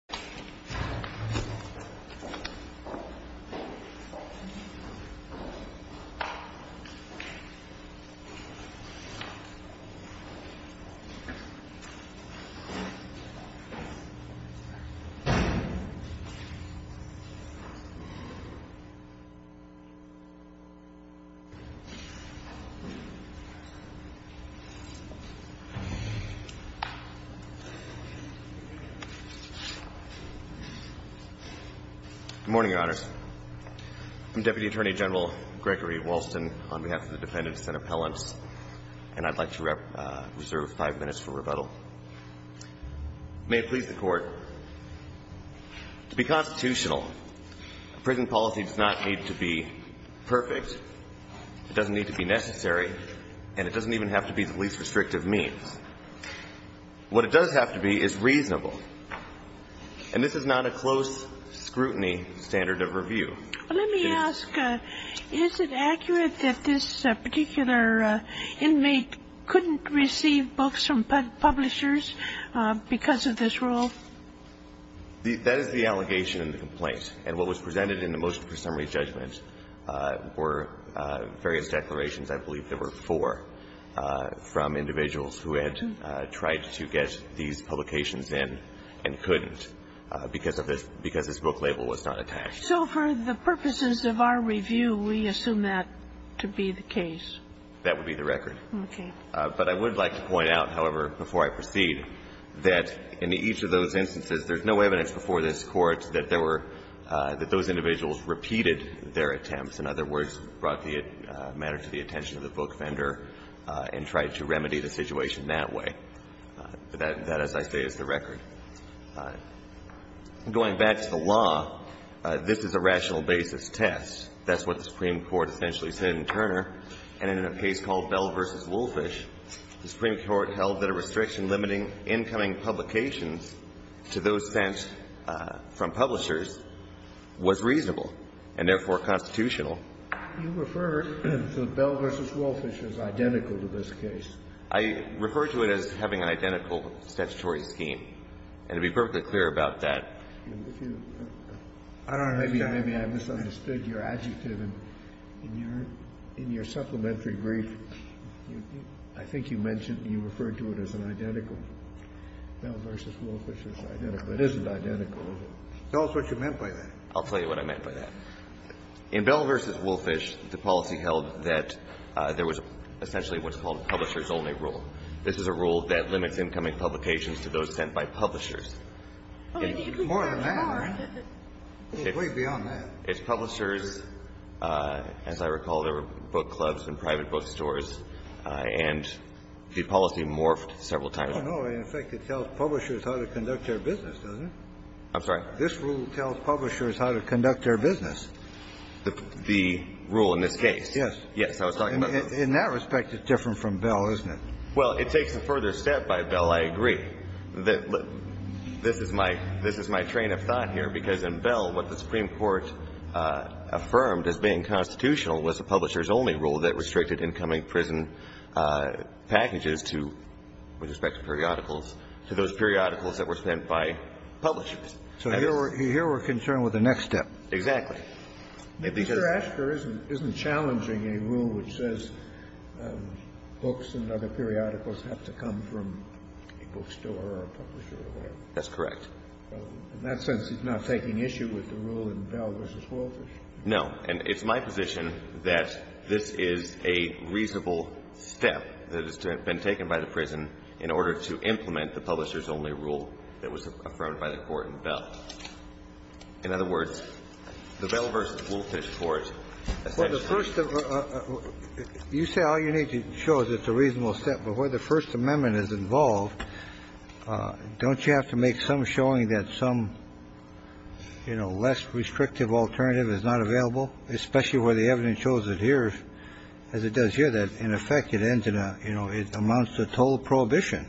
Dr. Raghuram G. Rajan, Deputy Head, Center for Corrections and Treatment of Asperger's Disease, is a registered Physician in the U.S. Department of Health and Human Services. Good morning, Your Honors. I'm Deputy Attorney General Gregory Walston on behalf of the defendants and appellants, and I'd like to reserve five minutes for rebuttal. May it please the Court, to be constitutional, prison policy does not need to be perfect. It doesn't need to be necessary, and it doesn't even have to be the least restrictive means. What it does have to be is reasonable, and this is not a close scrutiny standard of review. Let me ask, is it accurate that this particular inmate couldn't receive books from publishers because of this rule? That is the allegation in the complaint, and what was presented in the motion for summary judgment were various declarations. I believe there were four from individuals who had tried to get these publications in and couldn't because of this, because this book label was not attached. So for the purposes of our review, we assume that to be the case? That would be the record. Okay. But I would like to point out, however, before I proceed, that in each of those instances, there's no evidence before this Court that there were – that those individuals repeated their attempts, in other words, brought the matter to the attention of the book vendor and tried to remedy the situation that way. That, as I say, is the record. Going back to the law, this is a rational basis test. That's what the Supreme Court essentially said in Turner. And in a case called Bell v. Woolfish, the Supreme Court held that a restriction limiting incoming publications to those sent from publishers was reasonable and therefore constitutional. You refer to Bell v. Woolfish as identical to this case. I refer to it as having an identical statutory scheme, and to be perfectly clear about that. I don't understand. Maybe I misunderstood your adjective. In your supplementary brief, I think you mentioned you referred to it as an identical. Bell v. Woolfish is identical. It isn't identical. Tell us what you meant by that. I'll tell you what I meant by that. In Bell v. Woolfish, the policy held that there was essentially what's called a publisher's only rule. This is a rule that limits incoming publications to those sent by publishers. More than that, right? It's way beyond that. It's publishers. As I recall, there were book clubs and private bookstores, and the policy morphed several times. No, no. In fact, it tells publishers how to conduct their business, doesn't it? I'm sorry? This rule tells publishers how to conduct their business. The rule in this case? Yes. Yes. I was talking about those. In that respect, it's different from Bell, isn't it? Well, it takes a further step by Bell, I agree. This is my train of thought here, because in Bell, what the Supreme Court affirmed as being constitutional was a publisher's only rule that restricted incoming prison packages to, with respect to periodicals, to those periodicals that were sent by publishers. So here we're concerned with the next step. Exactly. Mr. Asher, isn't challenging a rule which says books and other periodicals have to come from a bookstore or a publisher or whatever? That's correct. In that sense, it's not taking issue with the rule in Bell v. Woolfish? No. And it's my position that this is a reasonable step that has been taken by the prison in order to implement the publisher's only rule that was affirmed by the Court in Bell. In other words, the Bell v. Woolfish Court essentially ---- Well, the first of the ---- you say all you need to show is it's a reasonable step, but where the First Amendment is involved, don't you have to make some showing that some, you know, less restrictive alternative is not available? Especially where the evidence shows that here, as it does here, that, in effect, it ends in a ---- you know, it amounts to a total prohibition.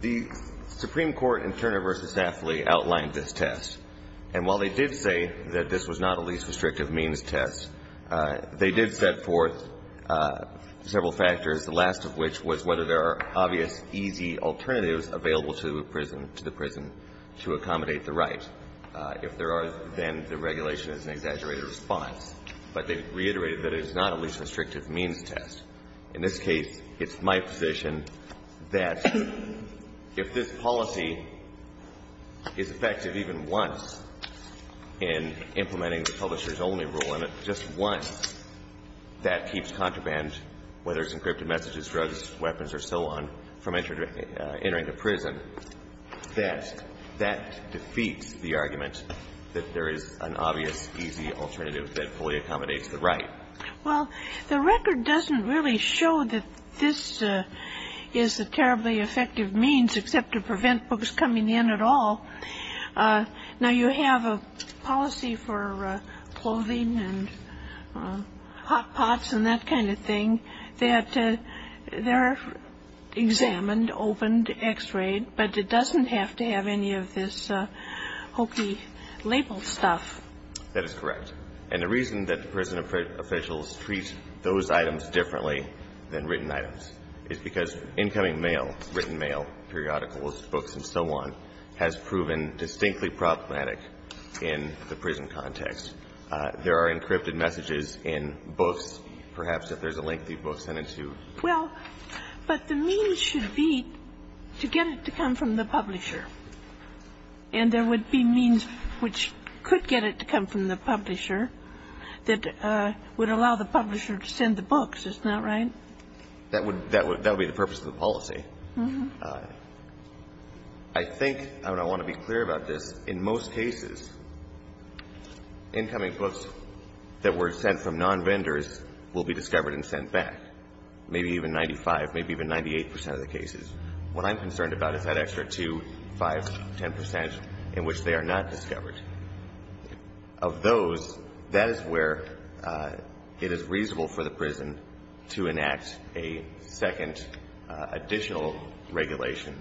The Supreme Court in Turner v. Daffley outlined this test. And while they did say that this was not a least restrictive means test, they did set forth several factors, the last of which was whether there are obvious easy alternatives available to a prison, to the prison, to accommodate the right. If there are, then the regulation is an exaggerated response. But they reiterated that it is not a least restrictive means test. In this case, it's my position that if this policy is effective even once in implementing the publisher's only rule, and it's just once, that keeps contraband, whether it's encrypted messages, drugs, weapons, or so on, from entering the prison, that that defeats the argument that there is an obvious easy alternative that fully accommodates the right. Well, the record doesn't really show that this is a terribly effective means except to prevent books coming in at all. Now, you have a policy for clothing and hot pots and that kind of thing that they're examined, opened, x-rayed, but it doesn't have to have any of this hokey labeled stuff. That is correct. And the reason that prison officials treat those items differently than written items is because incoming mail, written mail, periodicals, books, and so on, has proven distinctly problematic in the prison context. There are encrypted messages in books, perhaps, if there's a lengthy book sent in to a prison. Well, but the means should be to get it to come from the publisher. And there would be means which could get it to come from the publisher that would allow the publisher to send the books. Is that right? That would be the purpose of the policy. I think, and I want to be clear about this, in most cases, incoming books that were sent from non-vendors will be discovered and sent back, maybe even 95, maybe even 98 percent of the cases. What I'm concerned about is that extra 2, 5, 10 percent in which they are not discovered. Of those, that is where it is reasonable for the prison to enact a second additional regulation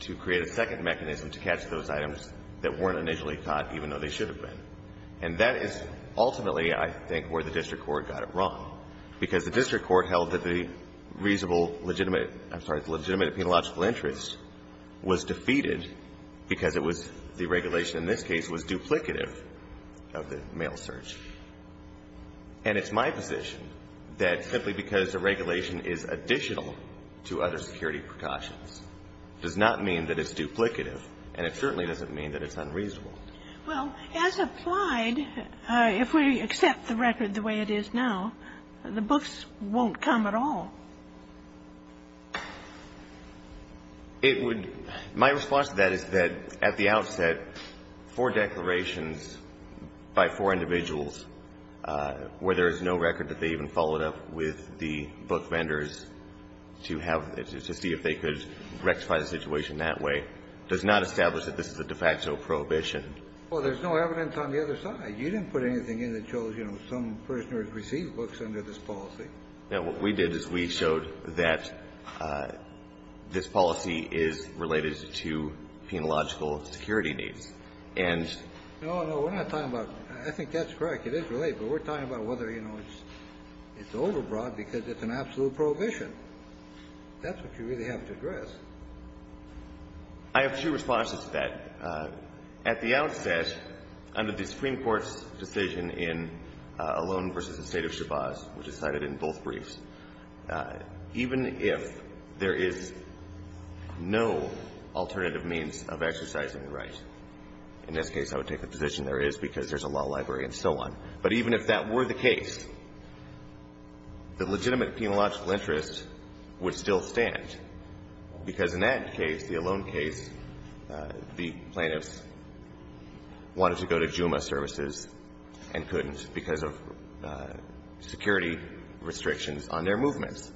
to create a second mechanism to catch those items that weren't initially caught, even though they should have been. And that is ultimately, I think, where the district court got it wrong. Because the district court held that the reasonable, legitimate, I'm sorry, the legitimate penological interest was defeated because it was the regulation in this case was duplicative of the mail search. And it's my position that simply because the regulation is additional to other security precautions does not mean that it's duplicative, and it certainly doesn't mean that it's unreasonable. Well, as applied, if we accept the record the way it is now, the books won't come at all. It would my response to that is that at the outset, four declarations by four individuals where there is no record that they even followed up with the book vendors to have, to see if they could rectify the situation that way, does not establish that this is a de facto prohibition. Well, there's no evidence on the other side. You didn't put anything in that shows, you know, some prisoners receive books under this policy. Now, what we did is we showed that this policy is related to penological security needs. And no, no, we're not talking about that. I think that's correct. It is related, but we're talking about whether, you know, it's overbroad because it's an absolute prohibition. That's what you really have to address. I have two responses to that. At the outset, under the Supreme Court's decision in Alone v. The State of Shabazz, which is cited in both briefs, even if there is no alternative means of exercising the right, in this case I would take the position there is because there's a law library and so on, but even if that were the case, the legitimate penological interest would still stand, because in that case, the Alone case, the plaintiffs wanted to go to Juma services and couldn't because of security restrictions on their movements.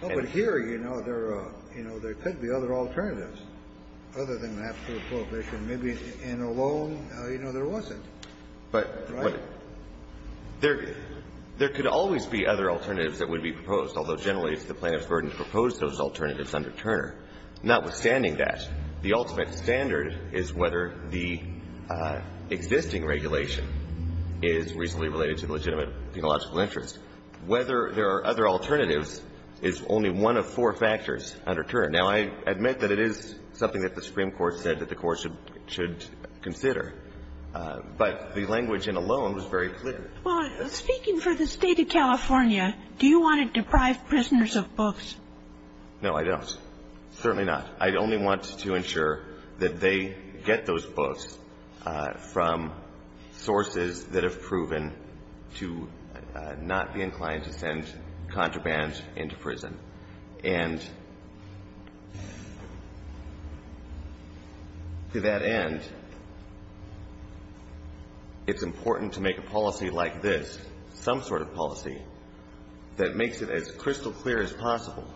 But here, you know, there are, you know, there could be other alternatives other than the absolute prohibition. Maybe in Alone, you know, there wasn't, right? There could always be other alternatives that would be proposed, although generally it's the plaintiff's burden to propose those alternatives under Turner. Notwithstanding that, the ultimate standard is whether the existing regulation is reasonably related to the legitimate penological interest. Whether there are other alternatives is only one of four factors under Turner. Now, I admit that it is something that the Supreme Court said that the Court should consider, but the language in Alone was very clear. Well, speaking for the State of California, do you want to deprive prisoners of books? No, I don't. Certainly not. I only want to ensure that they get those books from sources that have proven to not be inclined to send contraband into prison. And to that end, it's important to make a policy like this, some sort of policy, that makes it as crystal clear as possible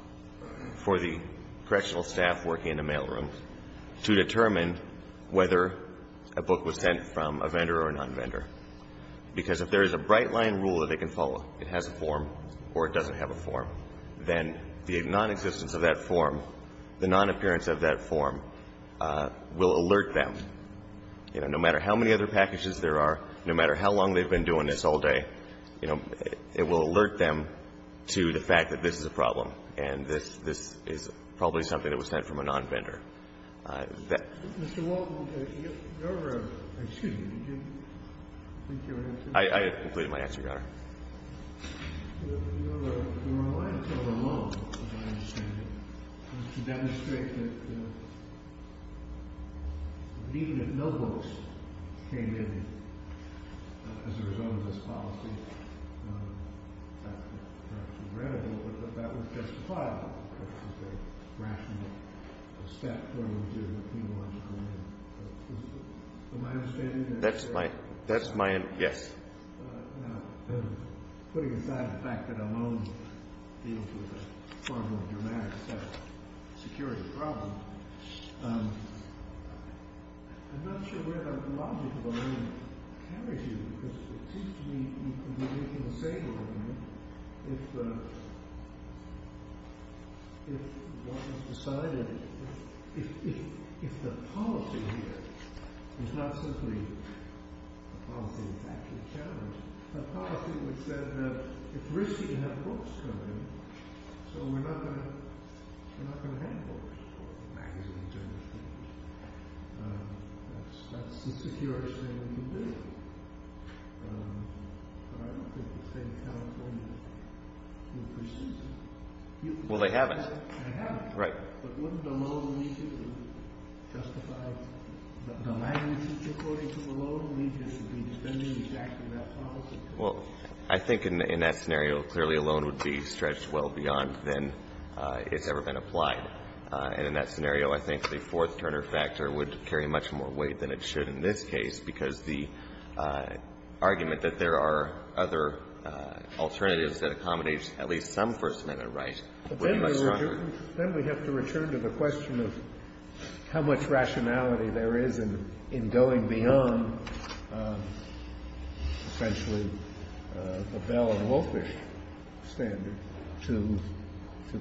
for the correctional staff working in the mailroom to determine whether a book was sent from a vendor or a non-vendor. Because if there is a bright-line rule that they can follow, it has a form or it doesn't have a form, then the nonexistence of that form, the non-appearance of that form will alert them. You know, no matter how many other packages there are, no matter how long they've been doing this all day, you know, it will alert them to the fact that this is a problem and this is probably something that was sent from a non-vendor. Mr. Walden, your – excuse me. Did you complete your answer? I have completed my answer, Your Honor. Your Honor, the reason it took so long, to my understanding, was to demonstrate that even if no books came in as a result of this policy, that would justify it because it's a rational step for them to penalize crime. From my understanding, that's my – that's my – yes. Now, putting aside the fact that a loan deals with a far more dramatic set of security problems, I'm not sure where that logic of a loan carries you because it seems to me you could be making the same argument if one has decided – if the policy here is not simply a policy that's actually challenging, but a policy which said that it's risky to have books come in, so we're not going to – we're not going to have books or magazines or newspapers. That's the securest thing we can do. But I don't think the State of California would pursue that. Well, they haven't. They haven't. Right. But wouldn't the loan need to justify – the magnitude, according to the loan, need to be defending exactly that policy? Well, I think in that scenario, clearly, a loan would be stretched well beyond than it's ever been applied. And in that scenario, I think the fourth-turner factor would carry much more weight than it should in this case because the argument that there are other alternatives that accommodate at least some First Amendment right would be much stronger. Then we have to return to the question of how much rationality there is in going beyond essentially the Bell and Wolffish standard to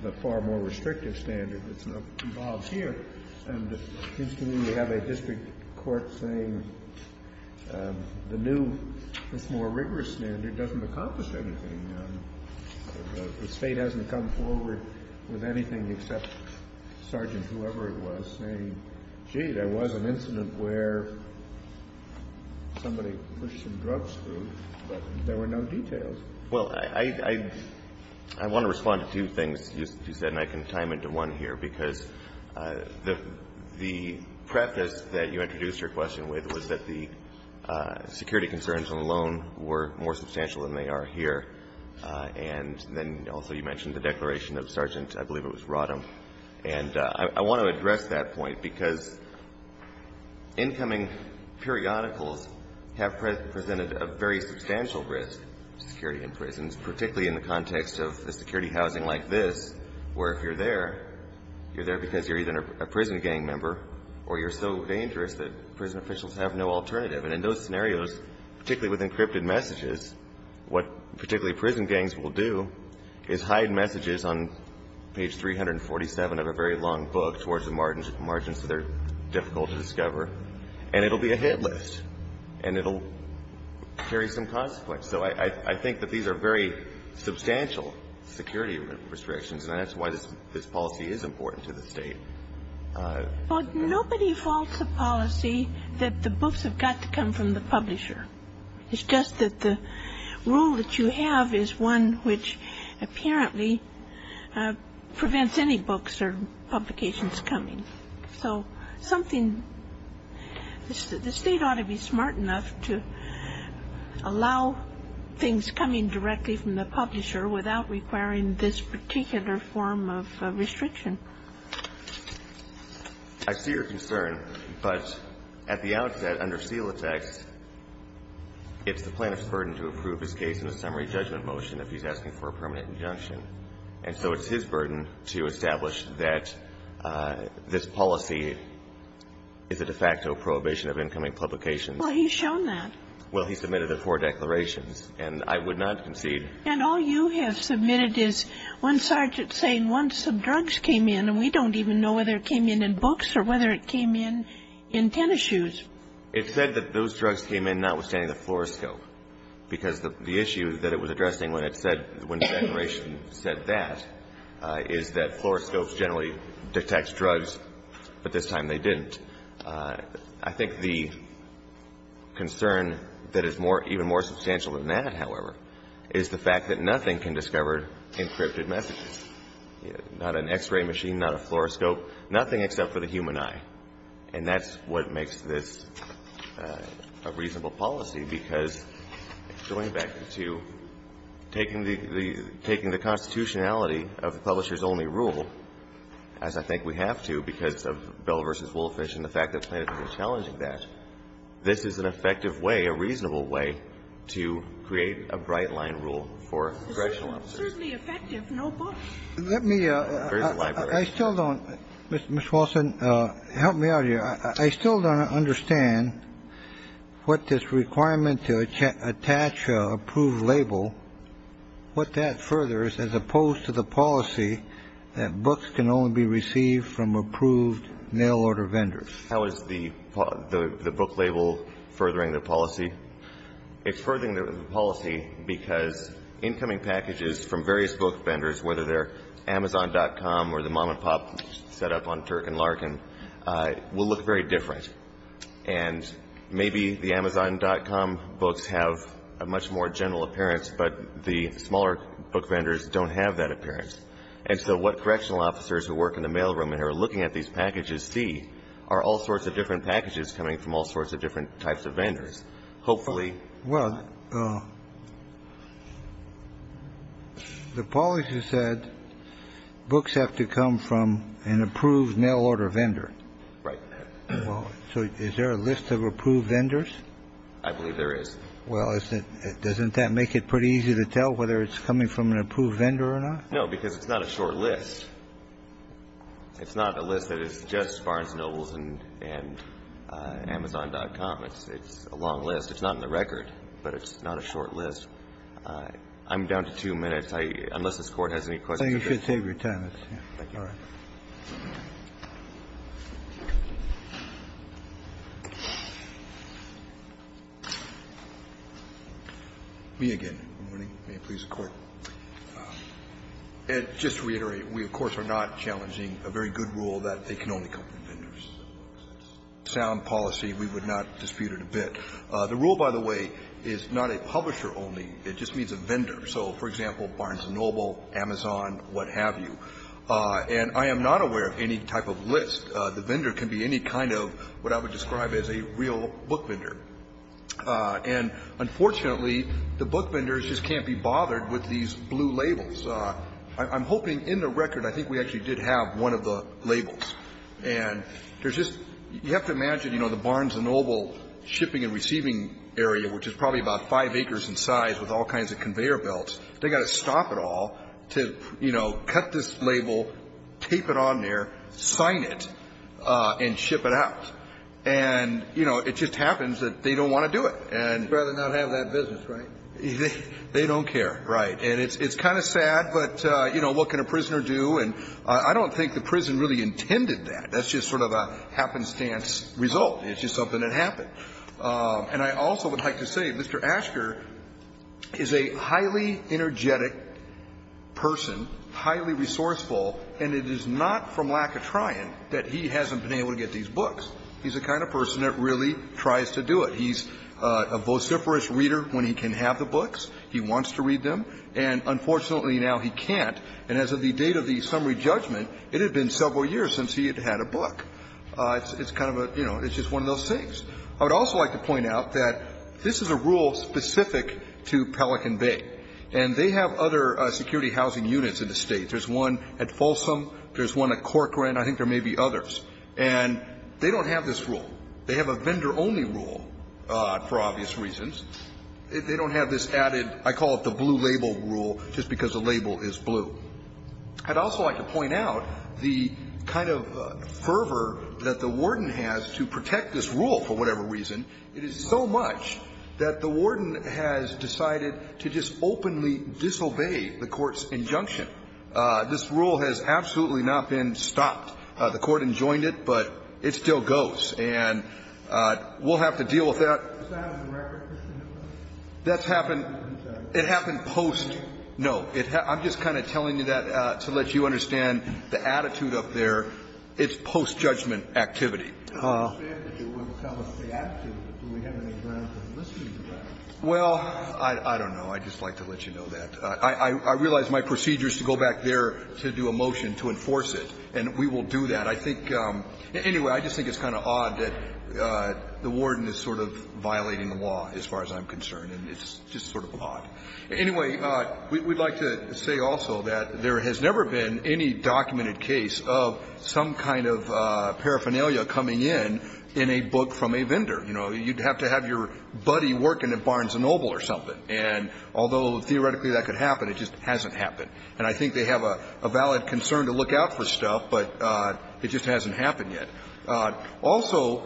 the far more restrictive standard that's involved here. And it seems to me we have a district court saying the new, this more rigorous standard doesn't accomplish anything. The State hasn't come forward with anything except sergeants, whoever it was, saying, gee, there was an incident where somebody pushed some drugs through, but there were no details. Well, I want to respond to two things you said, and I can tie them into one here because the preface that you introduced your question with was that the security concerns on the loan were more substantial than they are here. And then also you mentioned the declaration of sergeants. I believe it was Rodham. And I want to address that point because incoming periodicals have presented a very substantial risk to security in prisons, particularly in the context of a security housing like this, where if you're there, you're there because you're either a prison gang member or you're so dangerous that prison officials have no alternative. And in those scenarios, particularly with encrypted messages, what particularly prison gangs will do is hide messages on page 347 of a very long book towards the margins that are difficult to discover, and it will be a hit list, and it will carry some consequence. So I think that these are very substantial security restrictions, and that's why this policy is important to the State. Well, nobody faults a policy that the books have got to come from the publisher. It's just that the rule that you have is one which apparently prevents any books or publications coming. So something the State ought to be smart enough to allow things coming directly from the publisher without requiring this particular form of restriction. I see your concern. But at the outset, under seal of text, it's the plaintiff's burden to approve his case in a summary judgment motion if he's asking for a permanent injunction. And so it's his burden to establish that this policy is a de facto prohibition of incoming publications. Well, he's shown that. Well, he submitted the four declarations, and I would not concede. And all you have submitted is one sergeant saying once some drugs came in, and we don't even know whether it came in in books or whether it came in in tennis shoes. It said that those drugs came in notwithstanding the fluoroscope, because the issue that it was addressing when the declaration said that is that fluoroscopes generally detect drugs, but this time they didn't. I think the concern that is even more substantial than that, however, is the fact that nothing can discover encrypted messages, not an X-ray machine, not a fluoroscope, nothing except for the human eye. And that's what makes this a reasonable policy, because going back to taking the constitutionality of the publisher's only rule, as I think we have to because of Bell v. Woolfish and the fact that plaintiff is challenging that, this is an effective way, a reasonable way to create a bright-line rule for congressional offices. It's certainly effective. No books. Let me. There's a library. I still don't. Mr. Walsh, help me out here. I still don't understand what this requirement to attach an approved label, what that furthers as opposed to the policy that books can only be received from approved mail-order vendors. How is the book label furthering the policy? It's furthering the policy because incoming packages from various book vendors, whether they're Amazon.com or the mom-and-pop set up on Turk and Larkin, will look very different. And maybe the Amazon.com books have a much more general appearance, but the smaller book vendors don't have that appearance. And so what correctional officers who work in the mailroom and are looking at these packages see are all sorts of different packages coming from all sorts of different types of vendors. Well, the policy said books have to come from an approved mail-order vendor. Right. So is there a list of approved vendors? I believe there is. Well, doesn't that make it pretty easy to tell whether it's coming from an approved vendor or not? No, because it's not a short list. It's not a list that is just Barnes & Nobles and Amazon.com. It's a long list. It's not in the record, but it's not a short list. I'm down to two minutes. Unless this Court has any questions. I think you should save your time. Thank you. Me again. Good morning. May it please the Court. Just to reiterate, we of course are not challenging a very good rule that they can only come from vendors. Sound policy, we would not dispute it a bit. The rule, by the way, is not a publisher only. It just means a vendor. So, for example, Barnes & Noble, Amazon, what have you. And I am not aware of any type of list. The vendor can be any kind of what I would describe as a real book vendor. And unfortunately, the book vendors just can't be bothered with these blue labels. I'm hoping in the record, I think we actually did have one of the labels. And there's just, you have to imagine, you know, the Barnes & Noble shipping and receiving area, which is probably about five acres in size with all kinds of conveyor belts, they've got to stop it all to, you know, cut this label, tape it on there, sign it, and ship it out. And, you know, it just happens that they don't want to do it. They'd rather not have that business, right? They don't care, right. And it's kind of sad, but, you know, what can a prisoner do? And I don't think the prison really intended that. That's just sort of a happenstance result. It's just something that happened. And I also would like to say, Mr. Asher is a highly energetic person, highly resourceful, and it is not from lack of trying that he hasn't been able to get these books. He's the kind of person that really tries to do it. He's a vociferous reader when he can have the books. He wants to read them. And unfortunately, now he can't. And as of the date of the summary judgment, it had been several years since he had had a book. It's kind of a, you know, it's just one of those things. I would also like to point out that this is a rule specific to Pelican Bay. And they have other security housing units in the State. There's one at Folsom. There's one at Corcoran. I think there may be others. And they don't have this rule. They have a vendor-only rule, for obvious reasons. They don't have this added, I call it the blue label rule, just because the label is blue. I'd also like to point out the kind of fervor that the warden has to protect this rule, for whatever reason. It is so much that the warden has decided to just openly disobey the Court's injunction. This rule has absolutely not been stopped. The Court enjoined it, but it still goes. And we'll have to deal with that. That's happened. It happened post. No. I'm just kind of telling you that to let you understand the attitude up there. It's post-judgment activity. Well, I don't know. I'd just like to let you know that. I realize my procedure is to go back there to do a motion to enforce it. And we will do that. I think anyway, I just think it's kind of odd that the warden is sort of violating the law as far as I'm concerned. And it's just sort of odd. Anyway, we'd like to say also that there has never been any documented case of some kind of paraphernalia coming in in a book from a vendor. You know, you'd have to have your buddy working at Barnes & Noble or something. And although theoretically that could happen, it just hasn't happened. And I think they have a valid concern to look out for stuff, but it just hasn't happened yet. Also,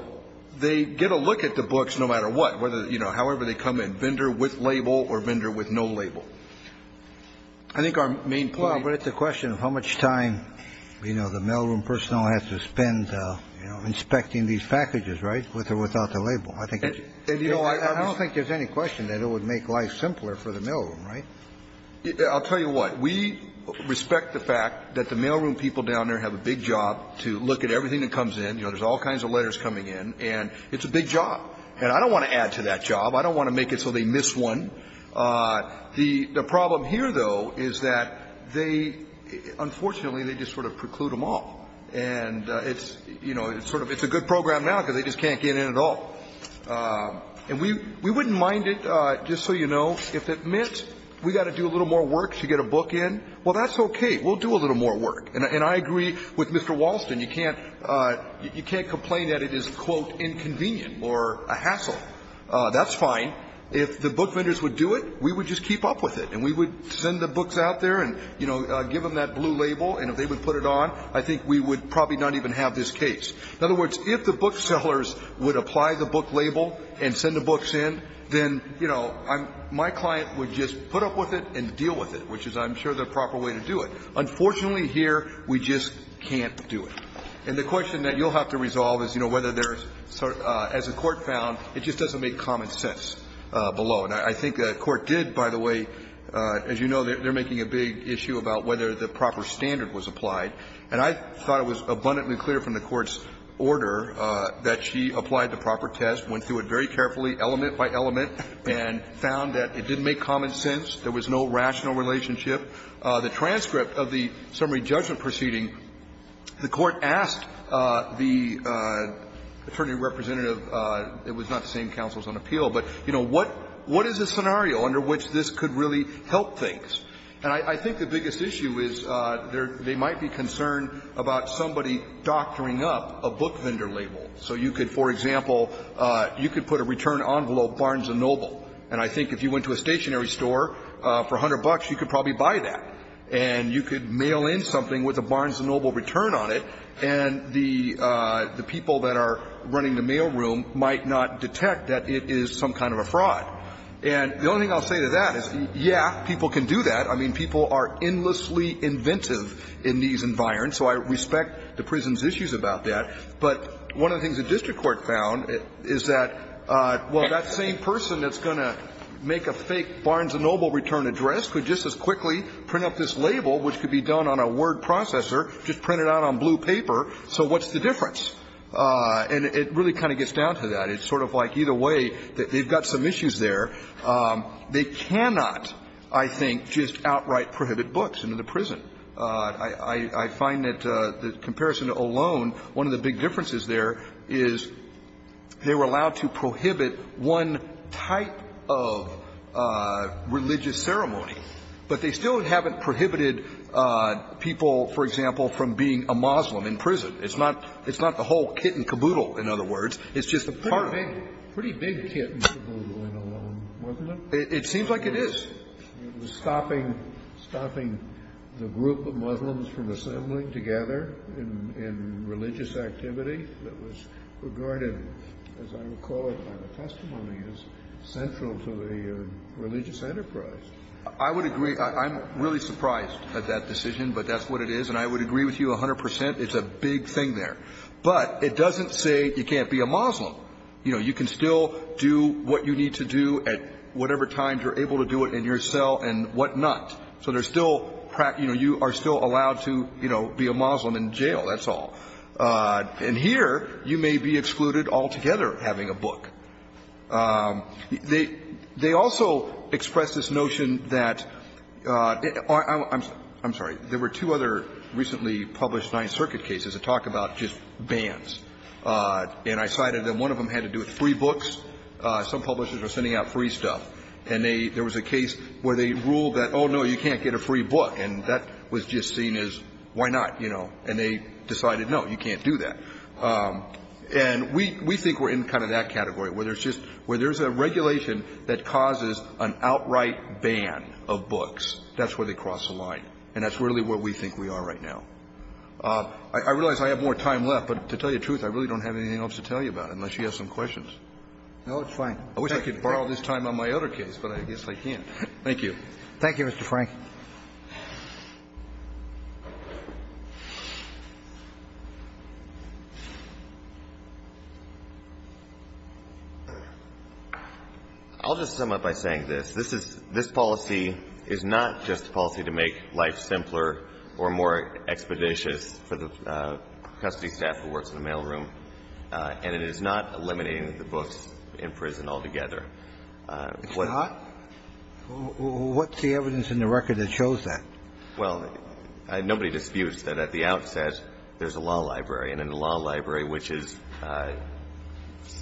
they get a look at the books no matter what, whether, you know, however they come in, vendor with label or vendor with no label. I think our main point. Well, but it's a question of how much time, you know, the mailroom personnel have to spend, you know, inspecting these packages, right, with or without the label. I don't think there's any question that it would make life simpler for the mailroom, right? I'll tell you what. We respect the fact that the mailroom people down there have a big job to look at everything that comes in. You know, there's all kinds of letters coming in. And it's a big job. And I don't want to add to that job. I don't want to make it so they miss one. The problem here, though, is that they unfortunately, they just sort of preclude them all. And it's, you know, it's a good program now because they just can't get in at all. And we wouldn't mind it, just so you know, if it meant we've got to do a little more work to get a book in. Well, that's okay. We'll do a little more work. And I agree with Mr. Walston. You can't complain that it is, quote, inconvenient or a hassle. That's fine. If the book vendors would do it, we would just keep up with it. And we would send the books out there and, you know, give them that blue label. And if they would put it on, I think we would probably not even have this case. In other words, if the booksellers would apply the book label and send the books in, then, you know, my client would just put up with it and deal with it, which is, I'm sure, the proper way to do it. Unfortunately here, we just can't do it. And the question that you'll have to resolve is, you know, whether there's sort of a common sense or whether this doesn't make common sense below. And I think the Court did, by the way, as you know, they're making a big issue about whether the proper standard was applied. And I thought it was abundantly clear from the Court's order that she applied the proper test, went through it very carefully, element by element, and found that it didn't make common sense, there was no rational relationship. The transcript of the summary judgment proceeding, the Court asked the attorney representative, it was not the same counsels on appeal, but, you know, what is a scenario under which this could really help things? And I think the biggest issue is they might be concerned about somebody doctoring up a book vendor label. So you could, for example, you could put a return envelope Barnes & Noble. And I think if you went to a stationery store for $100, you could probably buy that. And you could mail in something with a Barnes & Noble return on it, and the people that are running the mailroom might not detect that it is some kind of a fraud. And the only thing I'll say to that is, yeah, people can do that. I mean, people are endlessly inventive in these environments. So I respect the prison's issues about that. But one of the things the district court found is that, well, that same person that's going to make a fake Barnes & Noble return address could just as quickly print up this label, which could be done on a word processor, just print it out on blue paper. So what's the difference? And it really kind of gets down to that. It's sort of like either way, they've got some issues there. They cannot, I think, just outright prohibit books into the prison. I find that the comparison alone, one of the big differences there is they were allowed to prohibit one type of religious ceremony, but they still haven't prohibited people, for example, from being a Muslim in prison. It's not the whole kit and caboodle, in other words. It's just a part of it. Pretty big kit and caboodle in alone, wasn't it? It seems like it is. It was stopping the group of Muslims from assembling together in religious activity that was regarded, as I recall it by the testimony, as central to the religious enterprise. I would agree. I'm really surprised at that decision, but that's what it is. And I would agree with you 100 percent. It's a big thing there. But it doesn't say you can't be a Muslim. You know, you can still do what you need to do at whatever time you're able to do it in your cell and whatnot. So there's still you are still allowed to, you know, be a Muslim in jail, that's And here you may be excluded altogether having a book. They also express this notion that – I'm sorry. There were two other recently published Ninth Circuit cases that talk about just bans. And I cited them. One of them had to do with free books. Some publishers are sending out free stuff. And there was a case where they ruled that, oh, no, you can't get a free book. And that was just seen as why not, you know. And they decided, no, you can't do that. And we think we're in kind of that category, where there's just – where there's a regulation that causes an outright ban of books. That's where they cross the line. And that's really where we think we are right now. I realize I have more time left, but to tell you the truth, I really don't have anything else to tell you about, unless you have some questions. No, it's fine. I wish I could borrow this time on my other case, but I guess I can't. Thank you. Thank you, Mr. Frank. I'll just sum up by saying this. This is – this policy is not just a policy to make life simpler or more expeditious for the custody staff who works in the mailroom. And it is not eliminating the books in prison altogether. It's not? What's the evidence in the record that shows that? Well, nobody disputes that at the outset, there's a law library. And in the law library, which is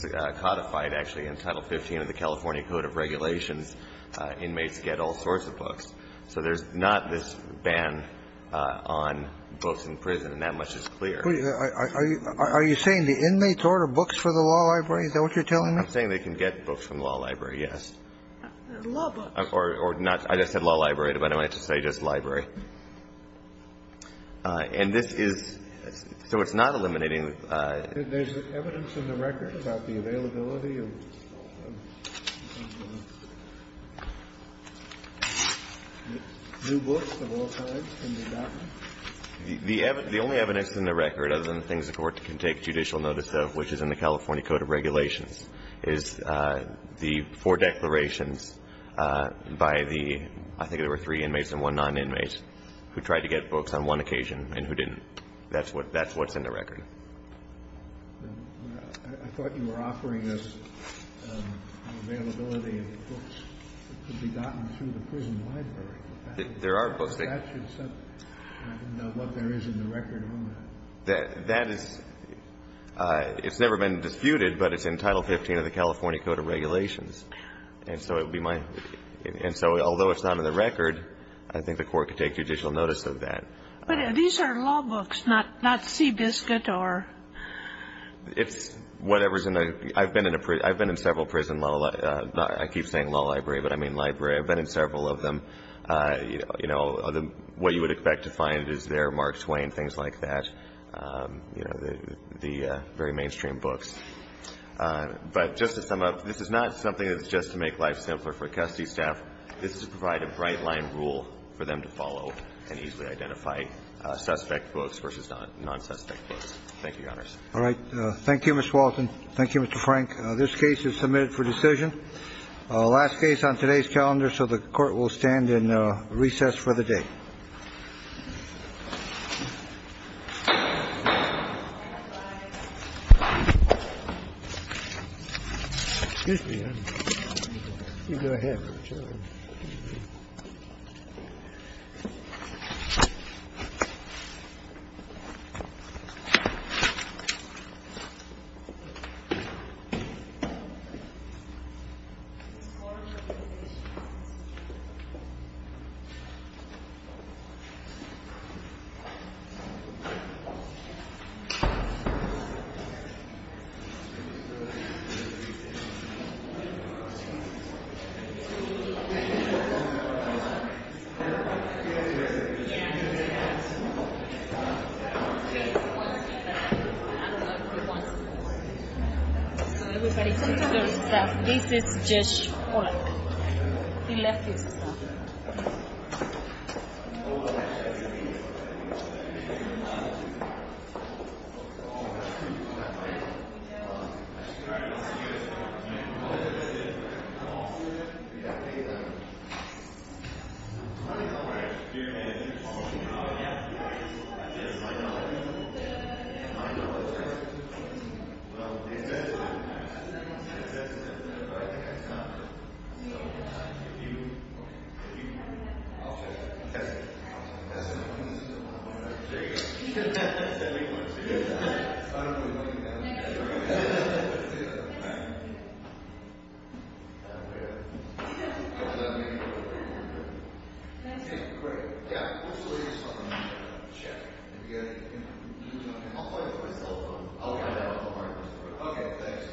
codified, actually, in Title 15 of the California Code of Regulations, inmates get all sorts of books. So there's not this ban on books in prison. And that much is clear. Are you saying the inmates order books for the law library? Is that what you're telling me? I'm saying they can get books from the law library, yes. Law books. Or not – I just said law library, but I meant to say just library. And this is – so it's not eliminating. There's evidence in the record about the availability of new books of all kinds in the apartment? The only evidence in the record, other than the things the Court can take judicial notice of, which is in the California Code of Regulations, is the four declarations by the – I think there were three inmates and one non-inmate who tried to get books on one occasion and who didn't. That's what's in the record. I thought you were offering us an availability of books that could be gotten through the prison library. There are books. I didn't know what there is in the record on that. That is – it's never been disputed, but it's in Title 15 of the California Code of Regulations. And so it would be my – and so although it's not in the record, I think the Court could take judicial notice of that. But these are law books, not Seabiscuit or – It's whatever's in the – I've been in several prison – I keep saying law library, but I mean library. I've been in several of them. You know, what you would expect to find is there Mark Twain, things like that. You know, the very mainstream books. But just to sum up, this is not something that's just to make life simpler for custody staff. This is to provide a bright-line rule for them to follow and easily identify suspect books versus non-suspect books. Thank you, Your Honors. All right. Thank you, Mr. Walton. Thank you, Mr. Frank. This case is submitted for decision. Last case on today's calendar, so the Court will stand in recess for the day. Court is in recess.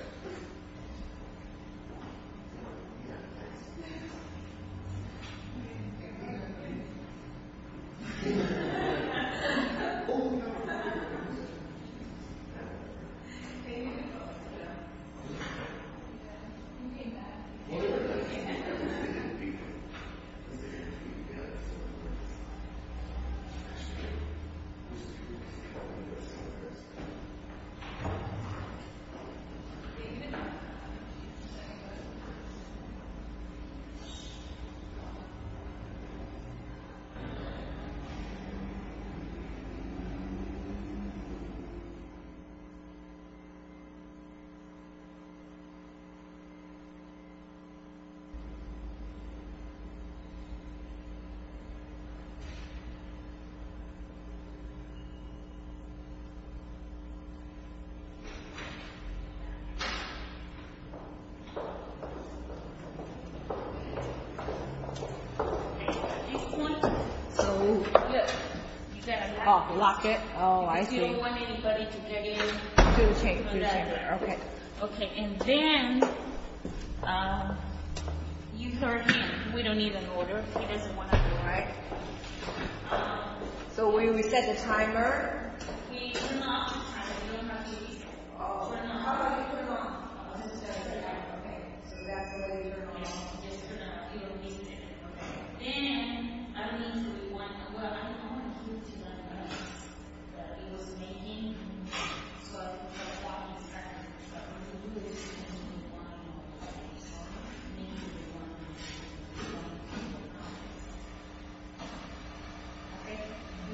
Thank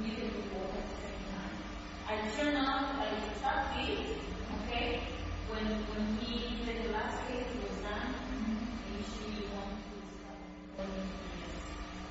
you. Thank you. Thank you. I don't know what that means. I don't know what that means. I don't know what that means. I don't know what that means. I don't know what that means. I don't know what that means. Great. Yeah. Let's wait until the next check. If you got any – I'll find it on my cell phone. I'll find it on my cell phone. Okay, great. Thanks. Okay. Do you have a point? No. Oh, lock it. Oh, I see. Do the chamber. Do the chamber. Okay. Okay. And then, you third hand. We don't need an order. He doesn't want an order. Right. So we reset the timer. How do I turn it on? Just turn it on. Okay. So that's the way you turn it on. We don't need it. We don't need it. We don't need it. We don't need it. We don't need it. We don't need it. So you have to look at the time. It's this second. Oh, yeah. Okay. When he said he was... When you say it was five, you say what am I reading? Yes, it was the same as what you said earlier. Okay. Okay.